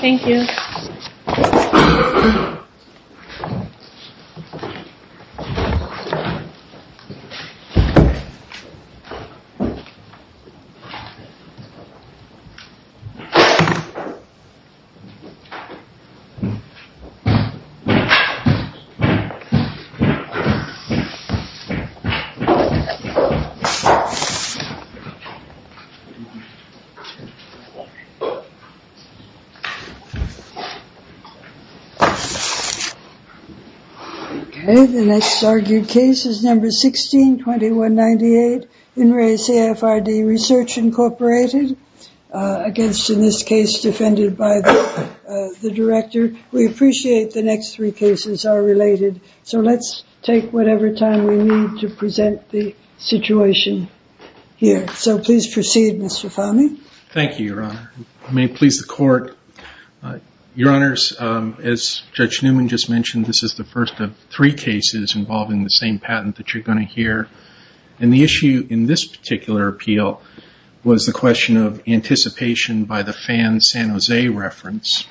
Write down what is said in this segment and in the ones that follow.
Thank you. Okay, the next argued case is No. 16-2198, In Re CFRD Research, Inc., against, in this case, defended by the director. We appreciate the next three cases are related, so let's take whatever time we need to present the situation here. So please proceed, Mr. Fahmy. Thank you, Your Honor. May it please the court. Your Honors, as Judge Newman just mentioned, this is the first of three cases involving the same patent that you're going to hear, and the issue in this particular appeal was the question of anticipation by the Fann-San Jose reference.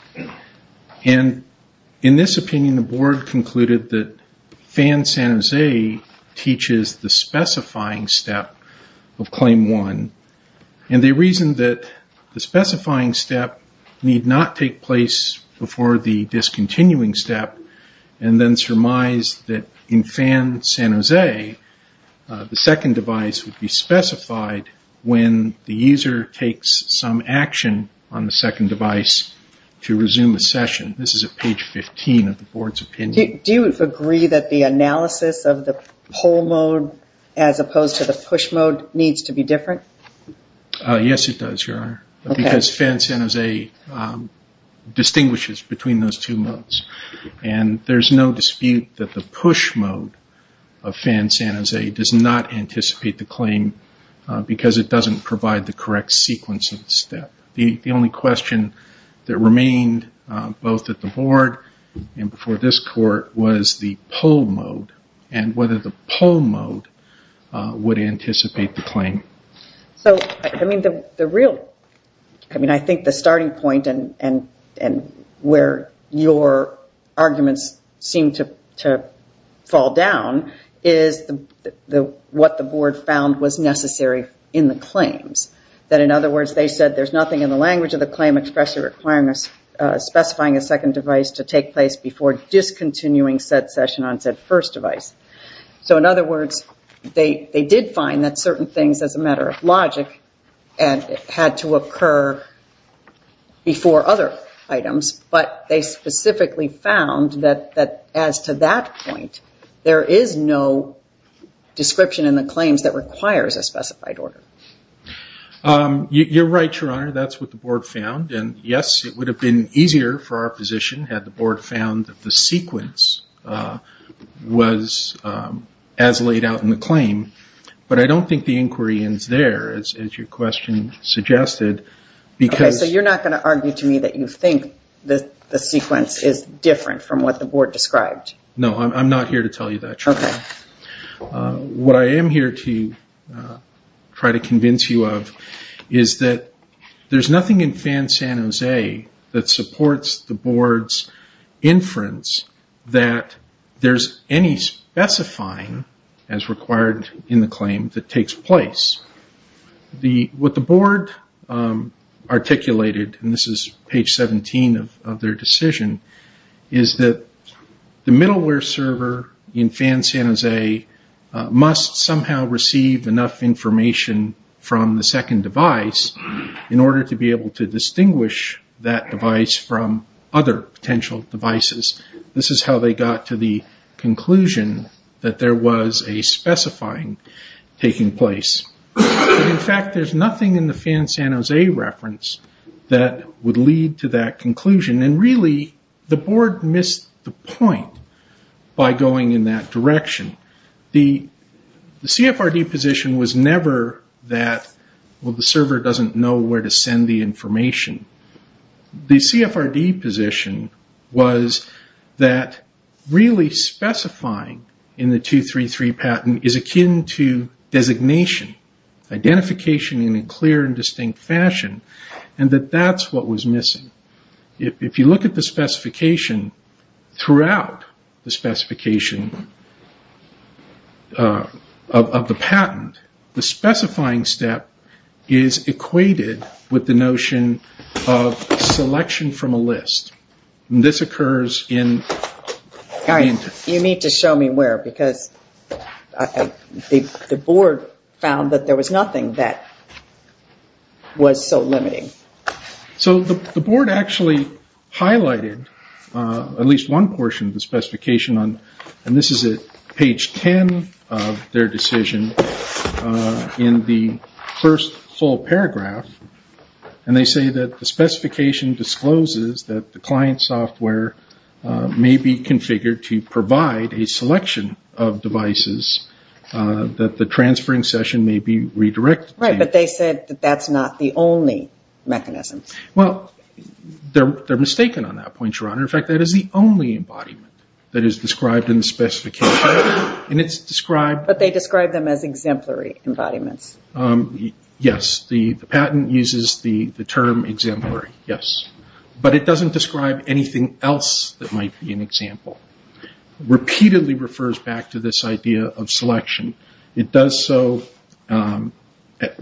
In this opinion, the board concluded that Fann-San Jose teaches the specifying step of Claim 1, and they reasoned that the specifying step need not take place before the discontinuing step, and then surmised that in Fann-San Jose, the second device would be specified when the user takes some action on the second device to resume a session. This is at page 15 of the board's opinion. Do you agree that the analysis of the pull mode as opposed to the push mode needs to be different? Yes, it does, Your Honor, because Fann-San Jose distinguishes between those two modes, and there's no dispute that the push mode of Fann-San Jose does not anticipate the claim because it doesn't provide the correct sequence of the step. The only question that remained both at the board and before this court was the pull mode, and whether the pull mode would anticipate the claim. I think the starting point and where your arguments seem to fall down is what the board found was necessary in the claims. In other words, they said there's nothing in the language of the claim expressly specifying a second device to take place before discontinuing said session on said first device. In other words, they did find that certain things as a matter of logic had to occur before other items, but they specifically found that as to that point, there is no description in the claims that requires a specified order. You're right, Your Honor, that's what the board found, and yes, it would have been easier for our position had the board found that the sequence was as laid out in the claim, but I don't think the inquiry ends there, as your question suggested, because... Okay, so you're not going to argue to me that you think that the sequence is different from what the board described? Okay. What I am here to try to convince you of is that there's nothing in FAN San Jose that supports the board's inference that there's any specifying as required in the claim that takes place. What the board articulated, and this is page 17 of their decision, is that the middleware server in FAN San Jose must somehow receive enough information from the second device in order to be able to distinguish that device from other potential devices. This is how they got to the conclusion that there was a specifying taking place. In fact, there's nothing in the FAN San Jose reference that would lead to that conclusion, and really, the board missed the point by going in that direction. The CFRD position was never that, well, the server doesn't know where to send the information. The CFRD position was that really specifying in the 233 patent is akin to designation, identification in a clear and distinct fashion, and that that's what was missing. If you look at the specification throughout the specification of the patent, the specifying step is equated with the notion of selection from a list. This occurs in... All right. You need to show me where, because the board found that there was nothing that was so limiting. The board actually highlighted at least one portion of the specification, and this is at page 10 of their decision, in the first full paragraph. They say that the specification discloses that the client software may be configured to provide a selection of devices that the transferring session may be redirected to. Right, but they said that that's not the only mechanism. Well, they're mistaken on that point, Your Honor. In fact, that is the only embodiment that is described in the specification. It's described... But they describe them as exemplary embodiments. Yes. The patent uses the term exemplary, yes. But it doesn't describe anything else that might be an example. Repeatedly refers back to this idea of selection. It does so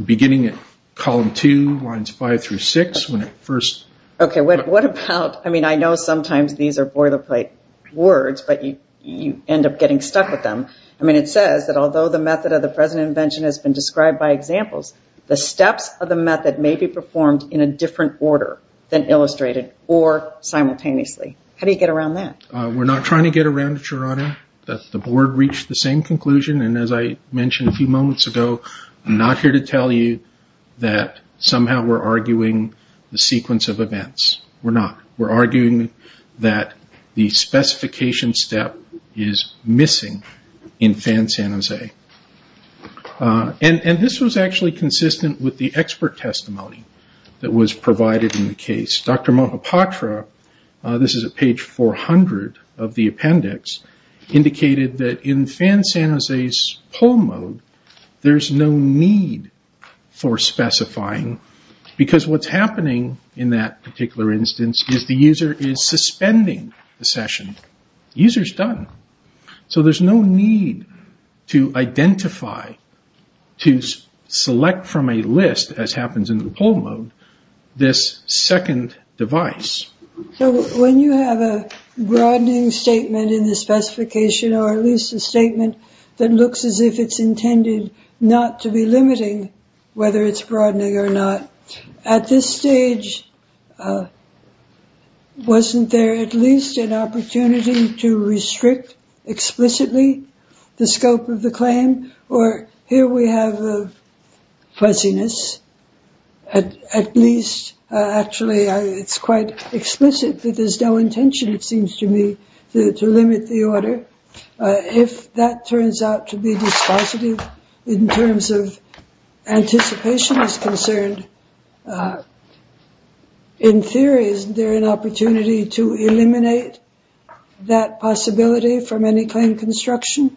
beginning at column two, lines five through six, when it first... Okay. What about... I mean, I know sometimes these are boilerplate words, but you end up getting stuck with them. I mean, it says that, although the method of the present invention has been described by examples, the steps of the method may be performed in a different order than illustrated or simultaneously. How do you get around that? We're not trying to get around it, Your Honor. The board reached the same conclusion, and as I mentioned a few moments ago, I'm not here to tell you that somehow we're arguing the sequence of events. We're not. We're arguing that the specification step is missing in Fan-San Jose. This was actually consistent with the expert testimony that was provided in the case. Dr. Mohapatra, this is at page 400 of the appendix, indicated that in Fan-San Jose's poll mode, there's no need for specifying because what's happening in that particular instance is the user is suspending the session. User's done. So there's no need to identify, to select from a list, as happens in the poll mode, this second device. When you have a broadening statement in the specification, or at least a statement that looks as if it's intended not to be limiting, whether it's broadening or not, at this stage, wasn't there at least an opportunity to restrict explicitly the scope of the claim, or here we have a fuzziness, at least, actually, it's quite explicit that there's no intention, it seems to me, to limit the order. If that turns out to be dispositive in terms of anticipation as concerned, in theory, isn't there an opportunity to eliminate that possibility from any claim construction?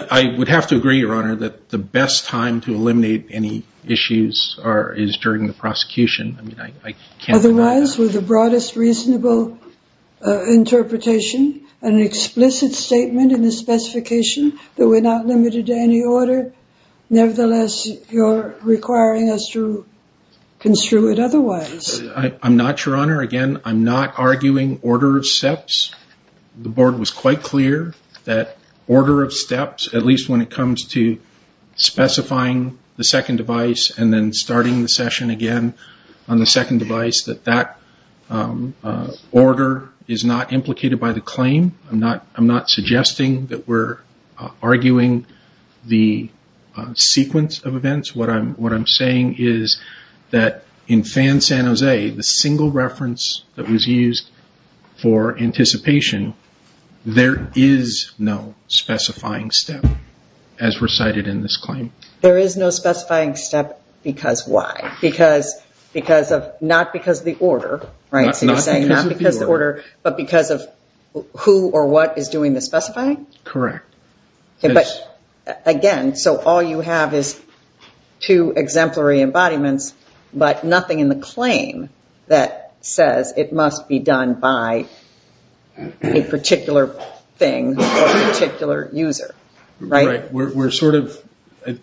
I would have to agree, Your Honor, that the best time to eliminate any issues is during the prosecution. I mean, I can't deny that. Otherwise, with the broadest reasonable interpretation, an explicit statement in the specification that we're not limited to any order, nevertheless, you're requiring us to construe it otherwise. I'm not, Your Honor. Again, I'm not arguing order of steps. The board was quite clear that order of steps, at least when it comes to specifying the second device and then starting the session again on the second device, that that order is not implicated by the claim. I'm not suggesting that we're arguing the sequence of events. What I'm saying is that in FAN San Jose, the single reference that was used for anticipation, there is no specifying step as recited in this claim. There is no specifying step because why? Not because of the order, right? Not because of the order. So you're saying not because of the order, but because of who or what is doing the specifying? Correct. But again, so all you have is two exemplary embodiments, but nothing in the claim that says it must be done by a particular thing or a particular user, right? We're sort of,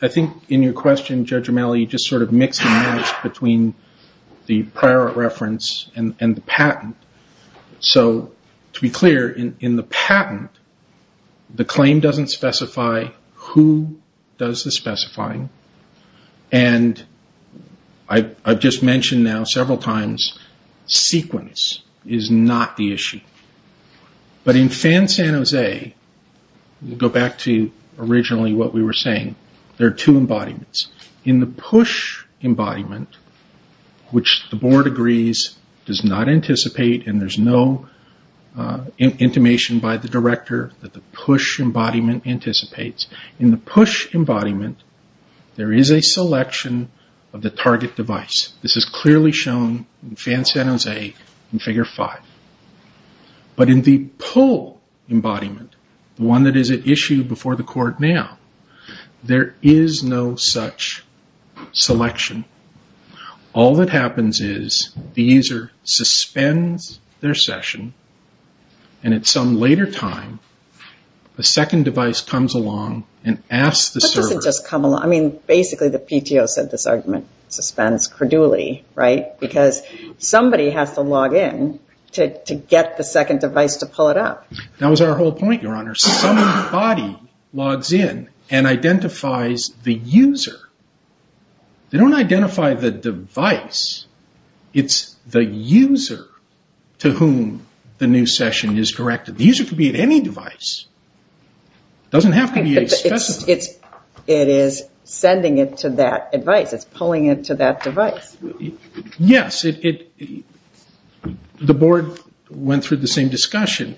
I think in your question, Judge O'Malley, just sort of mixing notes between the prior reference and the patent. So to be clear, in the patent, the claim doesn't specify who does the specifying and I've just mentioned now several times, sequence is not the issue. But in FAN San Jose, we'll go back to originally what we were saying, there are two embodiments. In the push embodiment, which the board agrees does not anticipate and there's no intimation by the director that the push embodiment anticipates. In the push embodiment, there is a selection of the target device. This is clearly shown in FAN San Jose in Figure 5. But in the pull embodiment, the one that is issued before the court now, there is no such selection. All that happens is the user suspends their session and at some later time, the second device comes along and asks the server. What does it just come along? I mean, basically the PTO said this argument, suspends credulity, right? Because somebody has to log in to get the second device to pull it up. That was our whole point, Your Honor. Somebody logs in and identifies the user. They don't identify the device. It's the user to whom the new session is directed. The user can be at any device. Doesn't have to be a specified. It is sending it to that device. It's pulling it to that device. Yes, the board went through the same discussion.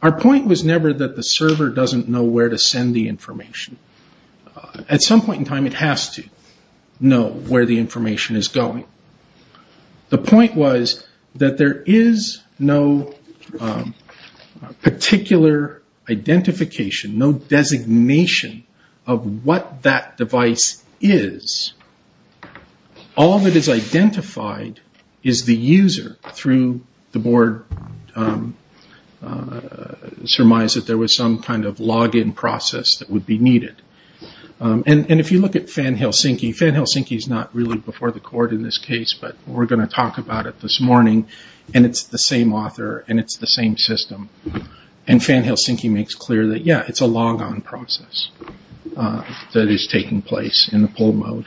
Our point was never that the server doesn't know where to send the information. At some point in time, it has to know where the information is going. The point was that there is no particular identification, no designation of what that device is. All that is identified is the user through the board surmise that there was some kind of log in process that would be needed. If you look at Fan Helsinki, Fan Helsinki is not really before the court in this case, but we're going to talk about it this morning. It's the same author and it's the same system. Fan Helsinki makes clear that, yeah, it's a log on process that is taking place in the poll mode.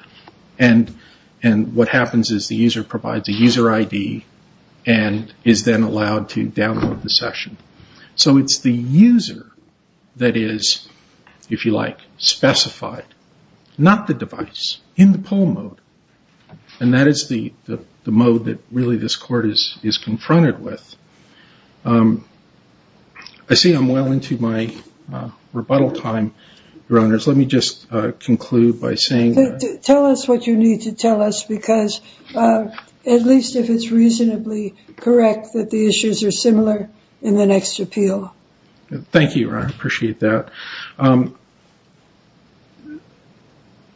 What happens is the user provides a user ID and is then allowed to download the session. It's the user that is, if you like, specified, not the device, in the poll mode. That is the mode that really this court is confronted with. I see I'm well into my rebuttal time, Your Honors. Let me just conclude by saying that. Tell us what you need to tell us, because at least if it's reasonably correct that the issues are similar in the next appeal. Thank you, Your Honor, I appreciate that.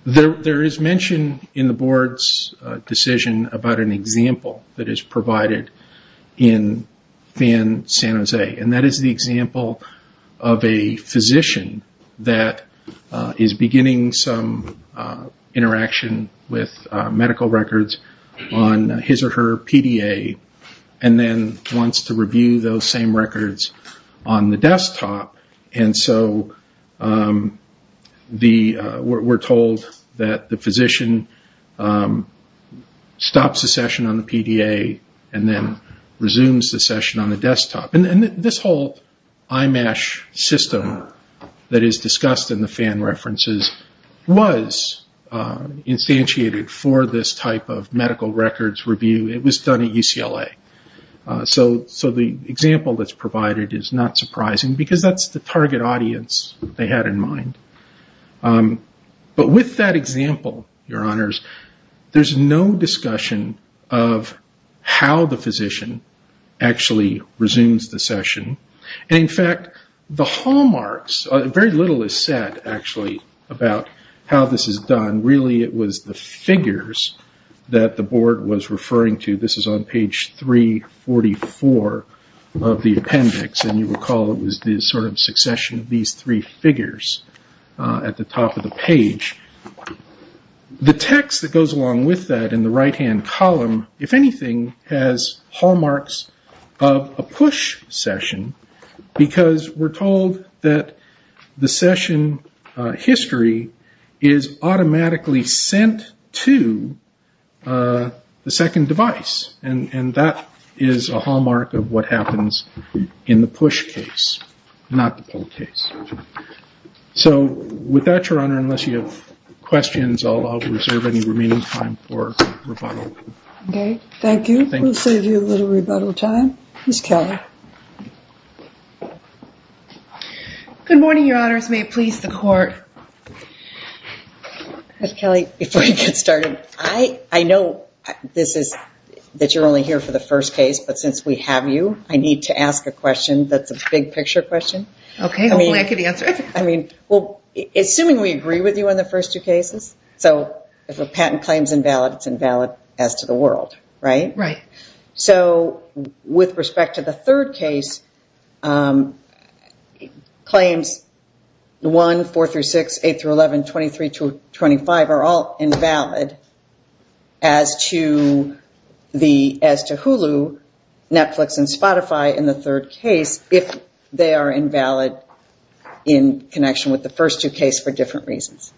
There is mention in the board's decision about an example that is provided in Fan San Jose. That is the example of a physician that is beginning some interaction with medical records on his or her PDA and then wants to review those same records on the desktop. We're told that the physician stops the session on the PDA and then resumes the session on the PDA. This whole IMESH system that is discussed in the Fan references was instantiated for this type of medical records review. It was done at UCLA. The example that's provided is not surprising, because that's the target audience they had in mind. With that example, Your Honors, there's no discussion of how the physician actually resumes the session. In fact, the hallmarks, very little is said, actually, about how this is done. Really it was the figures that the board was referring to. This is on page 344 of the appendix, and you recall it was this sort of succession of these three figures at the top of the page. The text that goes along with that in the right-hand column, if anything, has hallmarks of a PUSH session, because we're told that the session history is automatically sent to the second device. That is a hallmark of what happens in the PUSH case, not the PULL case. With that, Your Honor, unless you have questions, I'll reserve any remaining time for rebuttal. Thank you. We'll save you a little rebuttal time. Ms. Kelly. Good morning, Your Honors. May it please the Court. Ms. Kelly, before we get started, I know that you're only here for the first case, but since we have you, I need to ask a question that's a big-picture question. Okay. Hopefully I can answer it. Assuming we agree with you on the first two cases, so if a patent claim is invalid, it's If it's not, it's not. If it's not, it's not. If it's not, it's not. the world, right? Right. So, with respect to the third case, claims 1, 4-6, 8-11, 23-25 are all invalid as to Hulu, Netflix and Spotify in the third case if they are invalid in connection with the first two cases for different reasons.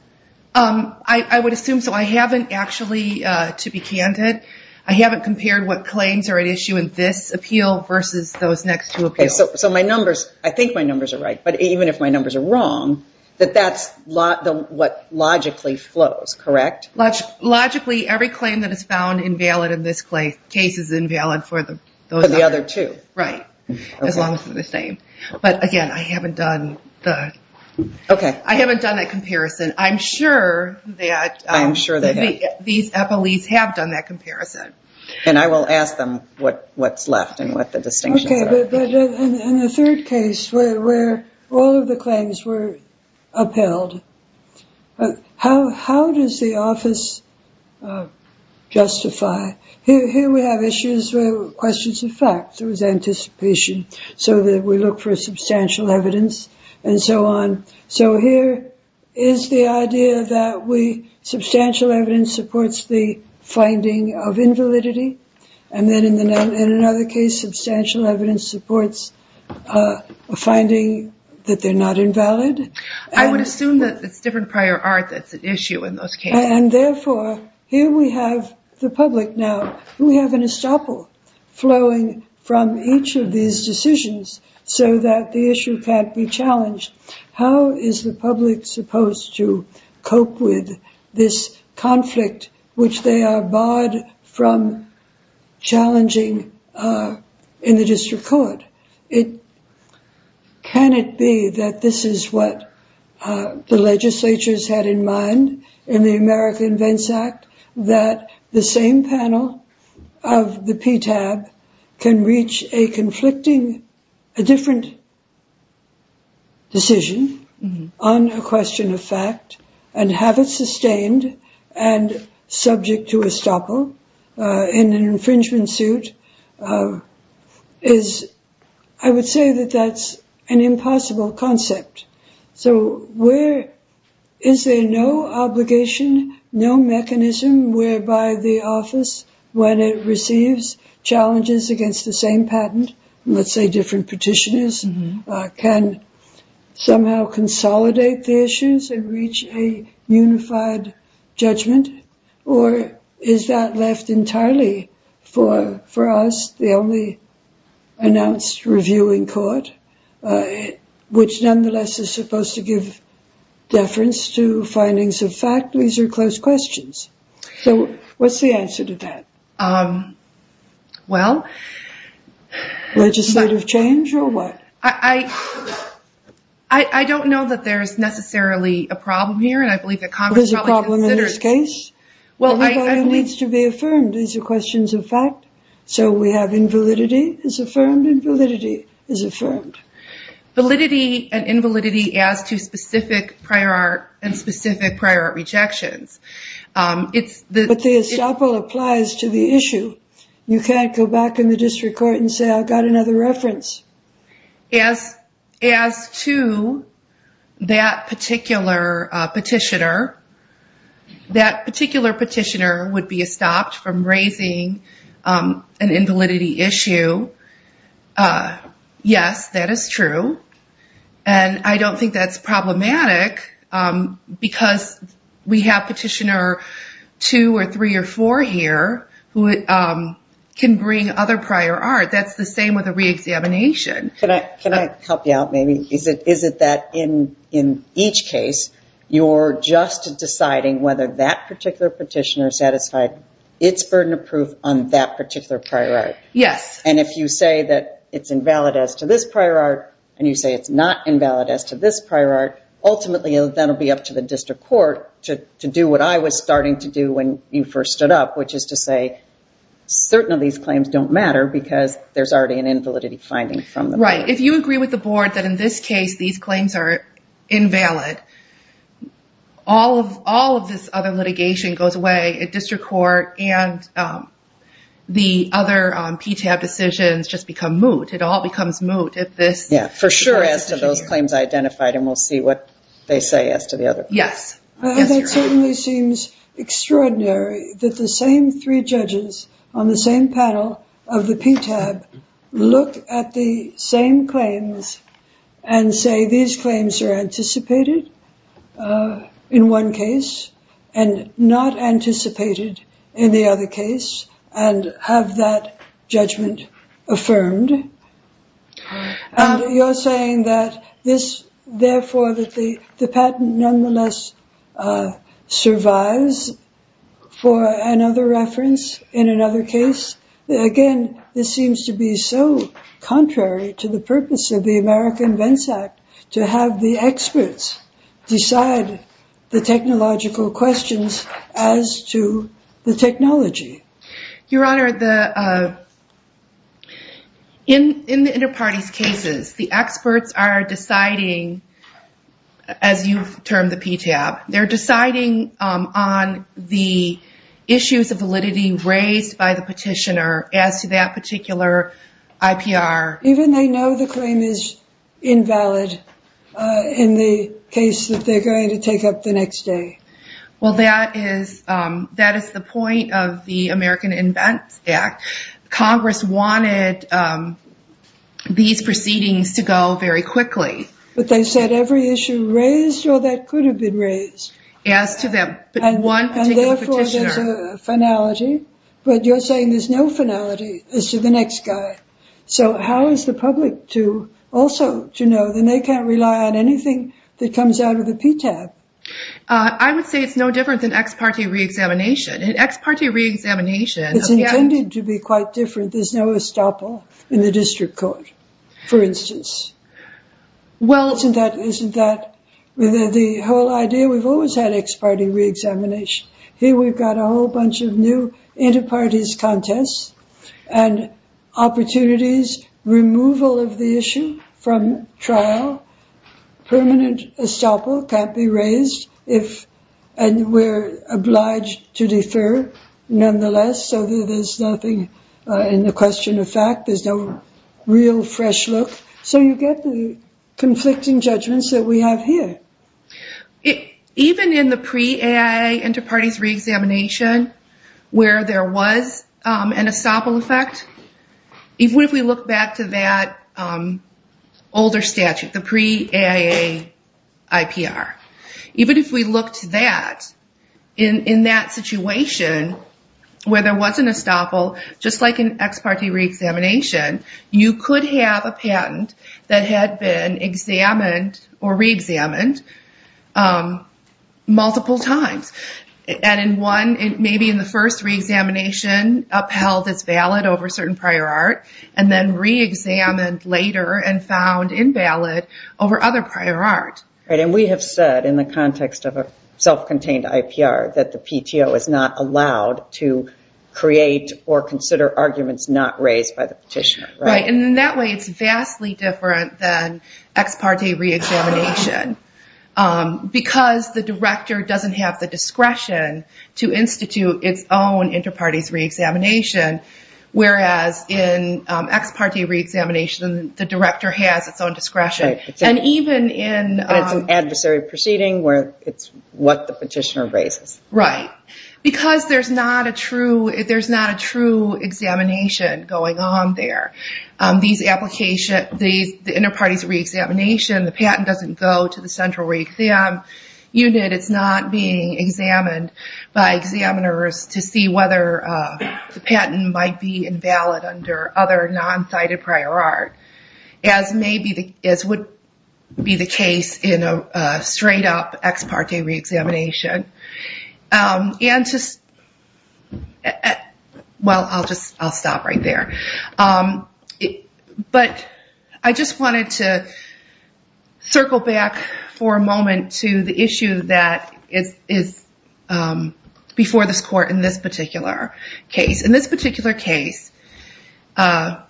I would assume so. I haven't actually, to be candid, I haven't compared what claims are at issue in this appeal versus those next two appeals. So my numbers, I think my numbers are right, but even if my numbers are wrong, that that's what logically flows, correct? Logically, every claim that is found invalid in this case is invalid for the other two. Right, as long as they're the same. But, again, I haven't done that comparison. I am sure that these appellees have done that comparison. And I will ask them what's left and what the distinctions are. Okay, but in the third case where all of the claims were upheld, how does the office justify? Here we have issues where questions of fact, there was anticipation, so that we look for the idea that substantial evidence supports the finding of invalidity, and then in another case substantial evidence supports a finding that they're not invalid. I would assume that it's different prior art that's at issue in those cases. And therefore, here we have the public now, we have an estoppel flowing from each of these cases, and we have to cope with this conflict which they are barred from challenging in the district court. Can it be that this is what the legislature's had in mind in the America Invents Act, that the same panel of the PTAB can reach a conflicting, a different decision on a question of fact, and have it sustained and subject to estoppel in an infringement suit? I would say that that's an impossible concept. So where is there no obligation, no mechanism whereby the office, when it receives challenges against the same patent, let's say different petitioners, can somehow consolidate the issues and reach a unified judgment? Or is that left entirely for us, the only announced review in court, which nonetheless is supposed to give deference to findings of fact? These are close questions. So what's the answer to that? Legislative change, or what? I don't know that there's necessarily a problem here, and I believe that Congress probably There's a problem in this case? Well, I believe... It needs to be affirmed. These are questions of fact. So we have invalidity is affirmed, and validity is affirmed. Validity and invalidity as to specific prior art, and specific prior art rejections. It's the... But the estoppel applies to the issue. You can't go back in the district court and say, I've got another reference. As to that particular petitioner, that particular petitioner would be estopped from raising an invalidity issue. Yes, that is true. And I don't think that's problematic, because we have petitioner two or three or four here who can bring other prior art. That's the same with a re-examination. Can I help you out maybe? Is it that in each case, you're just deciding whether that particular petitioner is satisfied, it's burden of proof on that particular prior art? Yes. And if you say that it's invalid as to this prior art, and you say it's not invalid as to this prior art, ultimately that'll be up to the district court to do what I was starting to do when you first stood up, which is to say, certain of these claims don't matter, because there's already an invalidity finding from them. Right. If you agree with the board that in this case, these claims are invalid, all of this other litigation goes away at district court, and the other PTAB decisions just become moot. It all becomes moot if this... For sure as to those claims identified, and we'll see what they say as to the other. Yes. That certainly seems extraordinary that the same three judges on the same panel of the PTAB look at the same claims and say these claims are anticipated in one case, and not anticipated in the other case, and have that judgment affirmed. Right. And that this, therefore, that the patent nonetheless survives for another reference in another case, again, this seems to be so contrary to the purpose of the American Vents Act to have the experts decide the technological questions as to the technology. Your Honor, in the inter-parties cases, the experts are deciding, as you've termed the PTAB, they're deciding on the issues of validity raised by the petitioner as to that particular IPR. Even they know the claim is invalid in the case that they're going to take up the next day. Well, that is the point of the American Vents Act. Congress wanted these proceedings to go very quickly. But they said every issue raised, or that could have been raised. As to that one particular petitioner. And therefore, there's a finality, but you're saying there's no finality as to the next guy. So how is the public to also to know that they can't rely on anything that comes out of the PTAB? I would say it's no different than ex-parte re-examination. An ex-parte re-examination... It's intended to be quite different. There's no estoppel in the district court, for instance. Well, isn't that the whole idea? We've always had ex-parte re-examination. Here we've got a whole bunch of new inter-parties contests and opportunities, removal of the issue from trial. Permanent estoppel can't be raised if... And we're obliged to defer, nonetheless, so that there's nothing in the question of fact. There's no real fresh look. So you get the conflicting judgments that we have here. Even in the pre-AIA inter-parties re-examination, where there was an estoppel effect, if we look back to that older statute, the pre-AIA IPR, even if we looked to that, in that situation where there was an estoppel, just like an ex-parte re-examination, you could have a patent that had been examined or re-examined multiple times. And in one, maybe in the first re-examination, upheld as valid over certain prior art, and then re-examined later and found invalid over other prior art. And we have said, in the context of a self-contained IPR, that the PTO is not allowed to create or consider arguments not raised by the petitioner. Right. And in that way, it's vastly different than ex-parte re-examination. Because the director doesn't have the discretion to institute its own inter-parties re-examination, whereas in ex-parte re-examination, the director has its own discretion. And even in... And it's an adversary proceeding where it's what the petitioner raises. Right. Because there's not a true examination going on there. These application... The inter-parties re-examination, the patent doesn't go to the central re-exam unit. It's not being examined by examiners to see whether the patent might be invalid under other non-cited prior art, as would be the case in a straight up ex-parte re-examination. And to... Well, I'll stop right there. But I just wanted to circle back for a moment to the issue that is before this court in this particular case. In this particular case, neither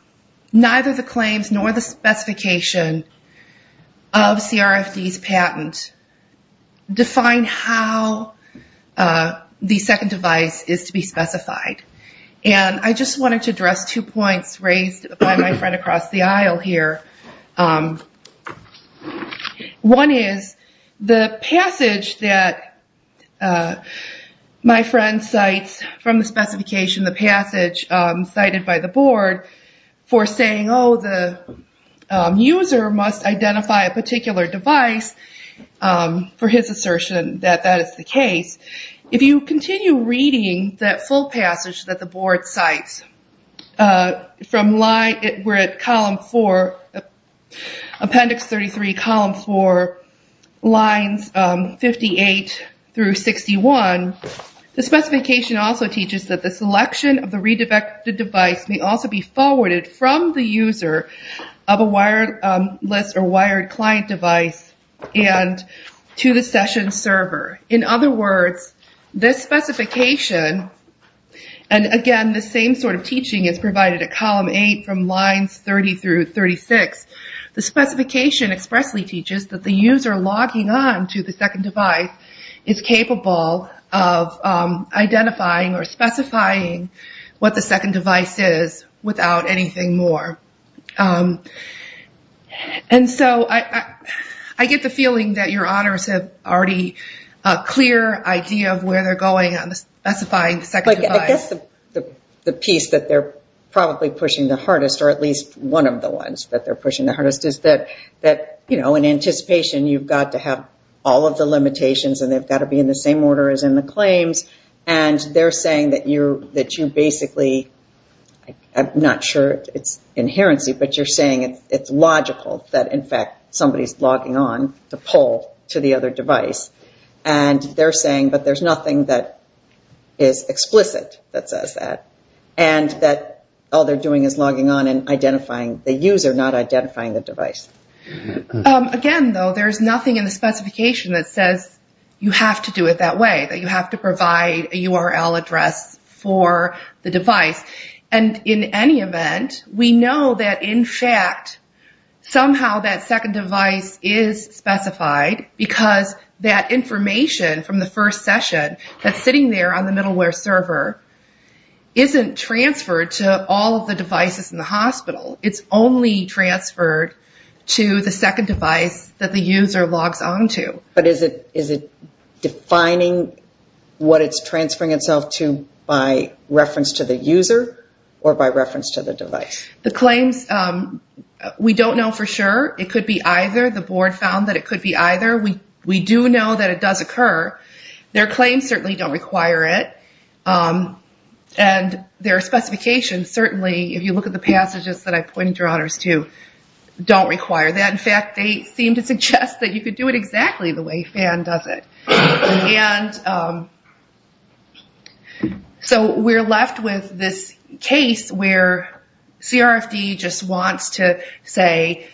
the claims nor the specification of CRFD's patent define how the second device is to be specified. And I just wanted to address two points raised by my friend across the aisle here. One is, the passage that my friend cites from the specification, the passage cited by the board, that that is the case. If you continue reading that full passage that the board cites from line... We're at column four, appendix 33, column four, lines 58 through 61, the specification also teaches that the selection of the redirected device may also be forwarded from the user of a wireless or wired client device and to the session server. In other words, this specification, and again, the same sort of teaching is provided at column eight from lines 30 through 36, the specification expressly teaches that the user logging on to the second device is capable of identifying or specifying what the second device is without anything more. And so, I get the feeling that your honors have already a clear idea of where they're going on specifying the second device. I guess the piece that they're probably pushing the hardest, or at least one of the ones that they're pushing the hardest, is that in anticipation, you've got to have all of the limitations and they've got to be in the same order as in the claims. And they're saying that you basically, I'm not sure it's inherency, but you're saying it's logical that in fact somebody's logging on to pull to the other device. And they're saying that there's nothing that is explicit that says that. And that all they're doing is logging on and identifying the user, not identifying the device. Again, though, there's nothing in the specification that says you have to do it that way, that you have to provide a URL address for the device. And in any event, we know that in fact somehow that second device is specified because that information from the first session that's sitting there on the middleware server isn't transferred to all of the devices in the hospital. It's only transferred to the second device that the user logs on to. But is it defining what it's transferring itself to by reference to the user or by reference to the device? The claims, we don't know for sure. It could be either. The board found that it could be either. We do know that it does occur. Their claims certainly don't require it. And their specifications certainly, if you look at the passages that I pointed your honors to, don't require that. In fact, they seem to suggest that you could do it exactly the way FAN does it. So we're left with this case where CRFD just wants to say,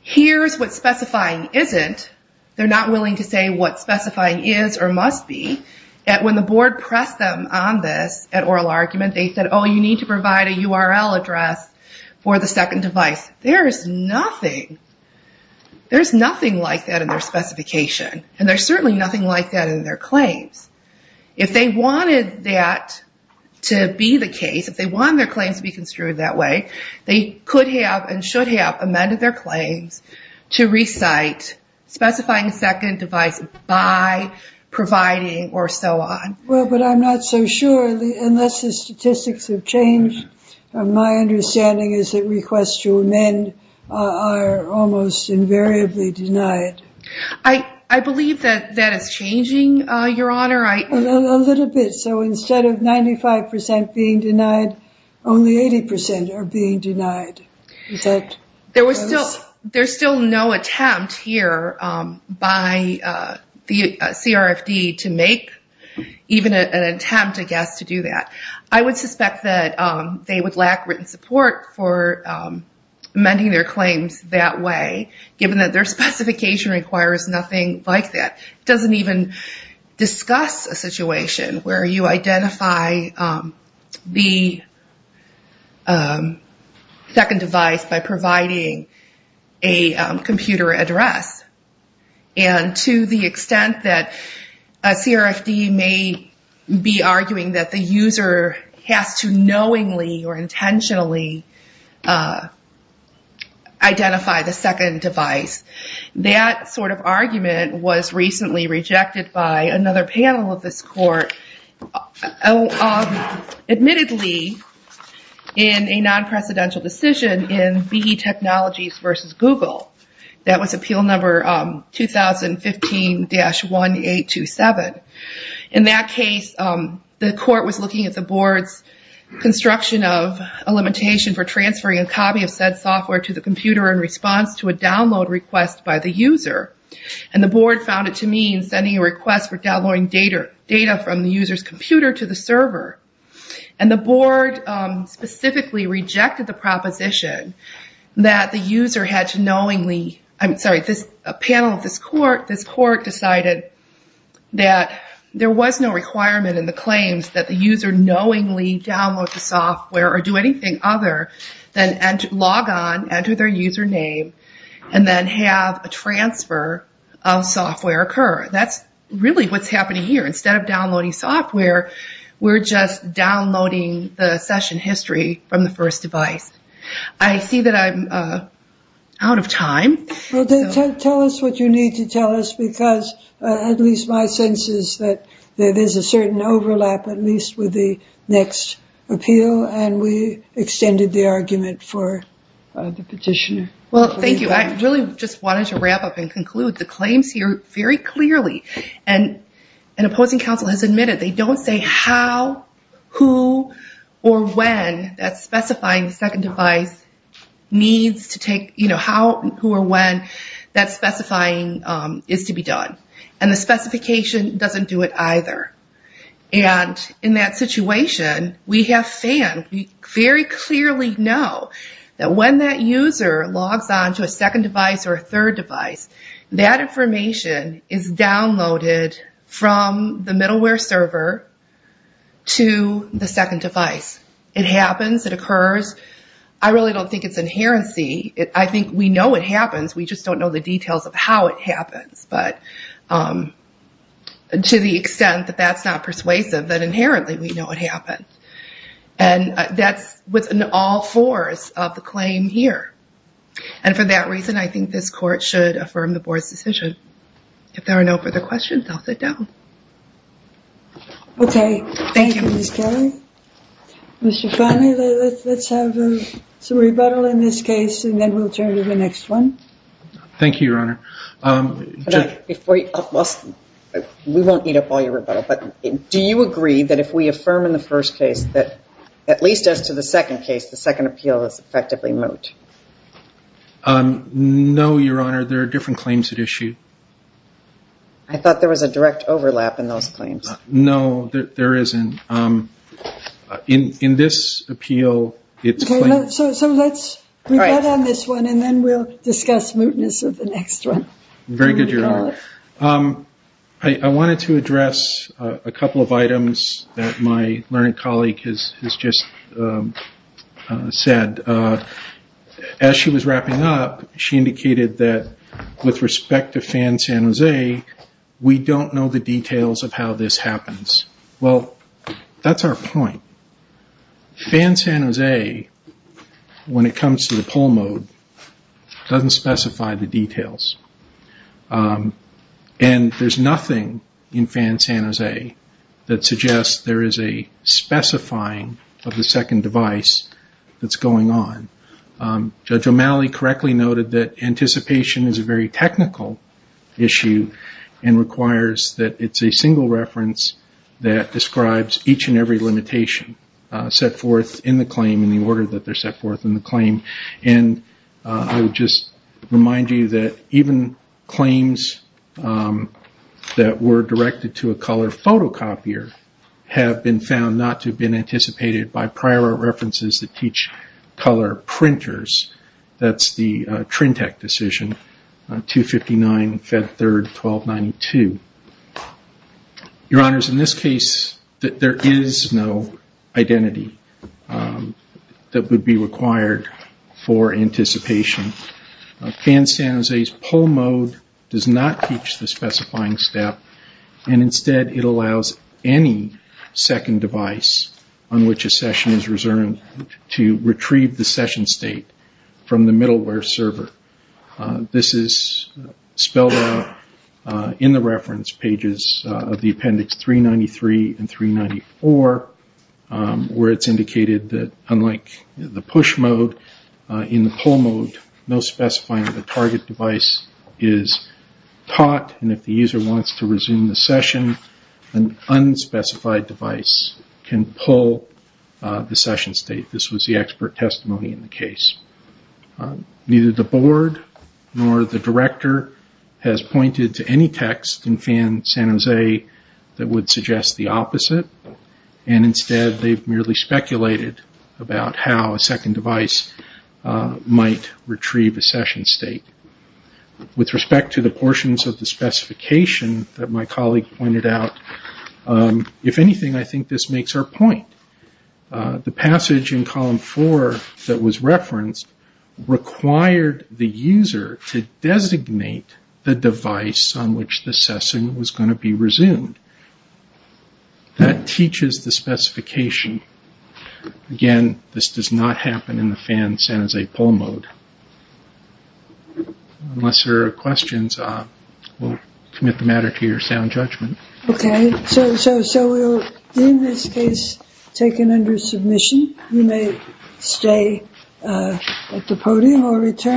here's what specifying isn't. They're not willing to say what specifying is or must be. And when the board pressed them on this at oral argument, they said, oh, you need to provide a URL address for the second device. There is nothing like that in their specification. And there's certainly nothing like that in their claims. If they wanted that to be the case, if they wanted their claims to be construed that way, they could have and should have amended their claims to recite specifying the second device by providing or so on. Well, but I'm not so sure, unless the statistics have changed. My understanding is that requests to amend are almost invariably denied. I believe that that is changing, your honor. A little bit. So instead of 95% being denied, only 80% are being denied. There's still no attempt here by the CRFD to make even an attempt, I guess, to do that. I would suspect that they would lack written support for amending their claims that way, given that their specification requires nothing like that. It doesn't even discuss a situation where you identify the second device by providing a computer address. And to the extent that a CRFD may be arguing that the user has to knowingly or intentionally identify the second device, that sort of argument was recently rejected by another panel of this court, admittedly, in a non-precedential decision in BE Technologies versus Google. That was appeal number 2015-1827. In that case, the court was looking at the board's construction of a limitation for transferring a copy of said software to the computer in response to a download request by the user. And the board found it to mean sending a request for downloading data from the user's computer to the server. And the board specifically rejected the proposition that the user had to knowingly... I'm sorry, a panel of this court decided that there was no requirement in the claims that the user knowingly download the software or do anything other than log on, enter their username, and then have a transfer of software occur. That's really what's happening here. Instead of downloading software, we're just downloading the session history from the first device. I see that I'm out of time. Well, tell us what you need to tell us because at least my sense is that there's a certain overlap, at least with the next appeal, and we extended the argument for the petitioner. Well, thank you. I really just wanted to wrap up and conclude. The claims here very clearly, and an opposing counsel has admitted, they don't say how, who, or when that specifying second device needs to take... How, who, or when that specifying is to be done. And the specification doesn't do it either. And in that situation, we have FAN, we very clearly know that when that user logs onto a second device or a third device, that information is downloaded from the middleware server to the second device. It happens, it occurs. I really don't think it's inherency. I think we know it happens, we just don't know the details of how it happens. But to the extent that that's not persuasive, then inherently we know it happened. And that's what's in all fours of the claim here. And for that reason, I think this court should affirm the board's decision. If there are no further questions, I'll sit down. Okay. Thank you, Ms. Kelly. Mr. Fahmy, let's have some rebuttal in this case, and then we'll turn to the next one. Thank you, Your Honor. We won't eat up all your rebuttal, but do you agree that if we affirm in the first case that, at least as to the second case, the second appeal is effectively moot? Um, no, Your Honor. There are different claims at issue. I thought there was a direct overlap in those claims. No, there isn't. In this appeal, it's plain. So let's rebut on this one, and then we'll discuss mootness of the next one. Very good, Your Honor. I wanted to address a couple of items that my learned colleague has just said. Uh, as she was wrapping up, she indicated that with respect to Fan San Jose, we don't know the details of how this happens. Well, that's our point. Fan San Jose, when it comes to the poll mode, doesn't specify the details. Um, and there's nothing in Fan San Jose that suggests there is a specifying of the second device that's going on. Judge O'Malley correctly noted that anticipation is a very technical issue and requires that it's a single reference that describes each and every limitation set forth in the claim in the order that they're set forth in the claim. And I would just remind you that even claims that were directed to a color photocopier have been found not to have been anticipated by prior references that teach color printers. That's the Trintec decision, 259 Fed Third 1292. Your Honors, in this case, there is no identity that would be required for anticipation. Fan San Jose's poll mode does not teach the specifying step, and instead it allows any second device on which a session is reserved to retrieve the session state from the middleware server. This is spelled out in the reference pages of the appendix 393 and 394 where it's indicated that unlike the push mode, in the poll mode, no specifying of the target device is taught. If the user wants to resume the session, an unspecified device can pull the session state. This was the expert testimony in the case. Neither the board nor the director has pointed to any text in Fan San Jose that would suggest the opposite, and instead they've merely speculated about how a second device might retrieve a session state. With respect to the portions of the specification that my colleague pointed out, if anything, I think this makes our point. The passage in column four that was referenced required the user to designate the device on which the session was going to be resumed. That teaches the specification. Again, this does not happen in the Fan San Jose poll mode. Unless there are questions, we'll commit the matter to your sound judgment. Okay, so in this case, taken under submission, you may stay at the podium or return.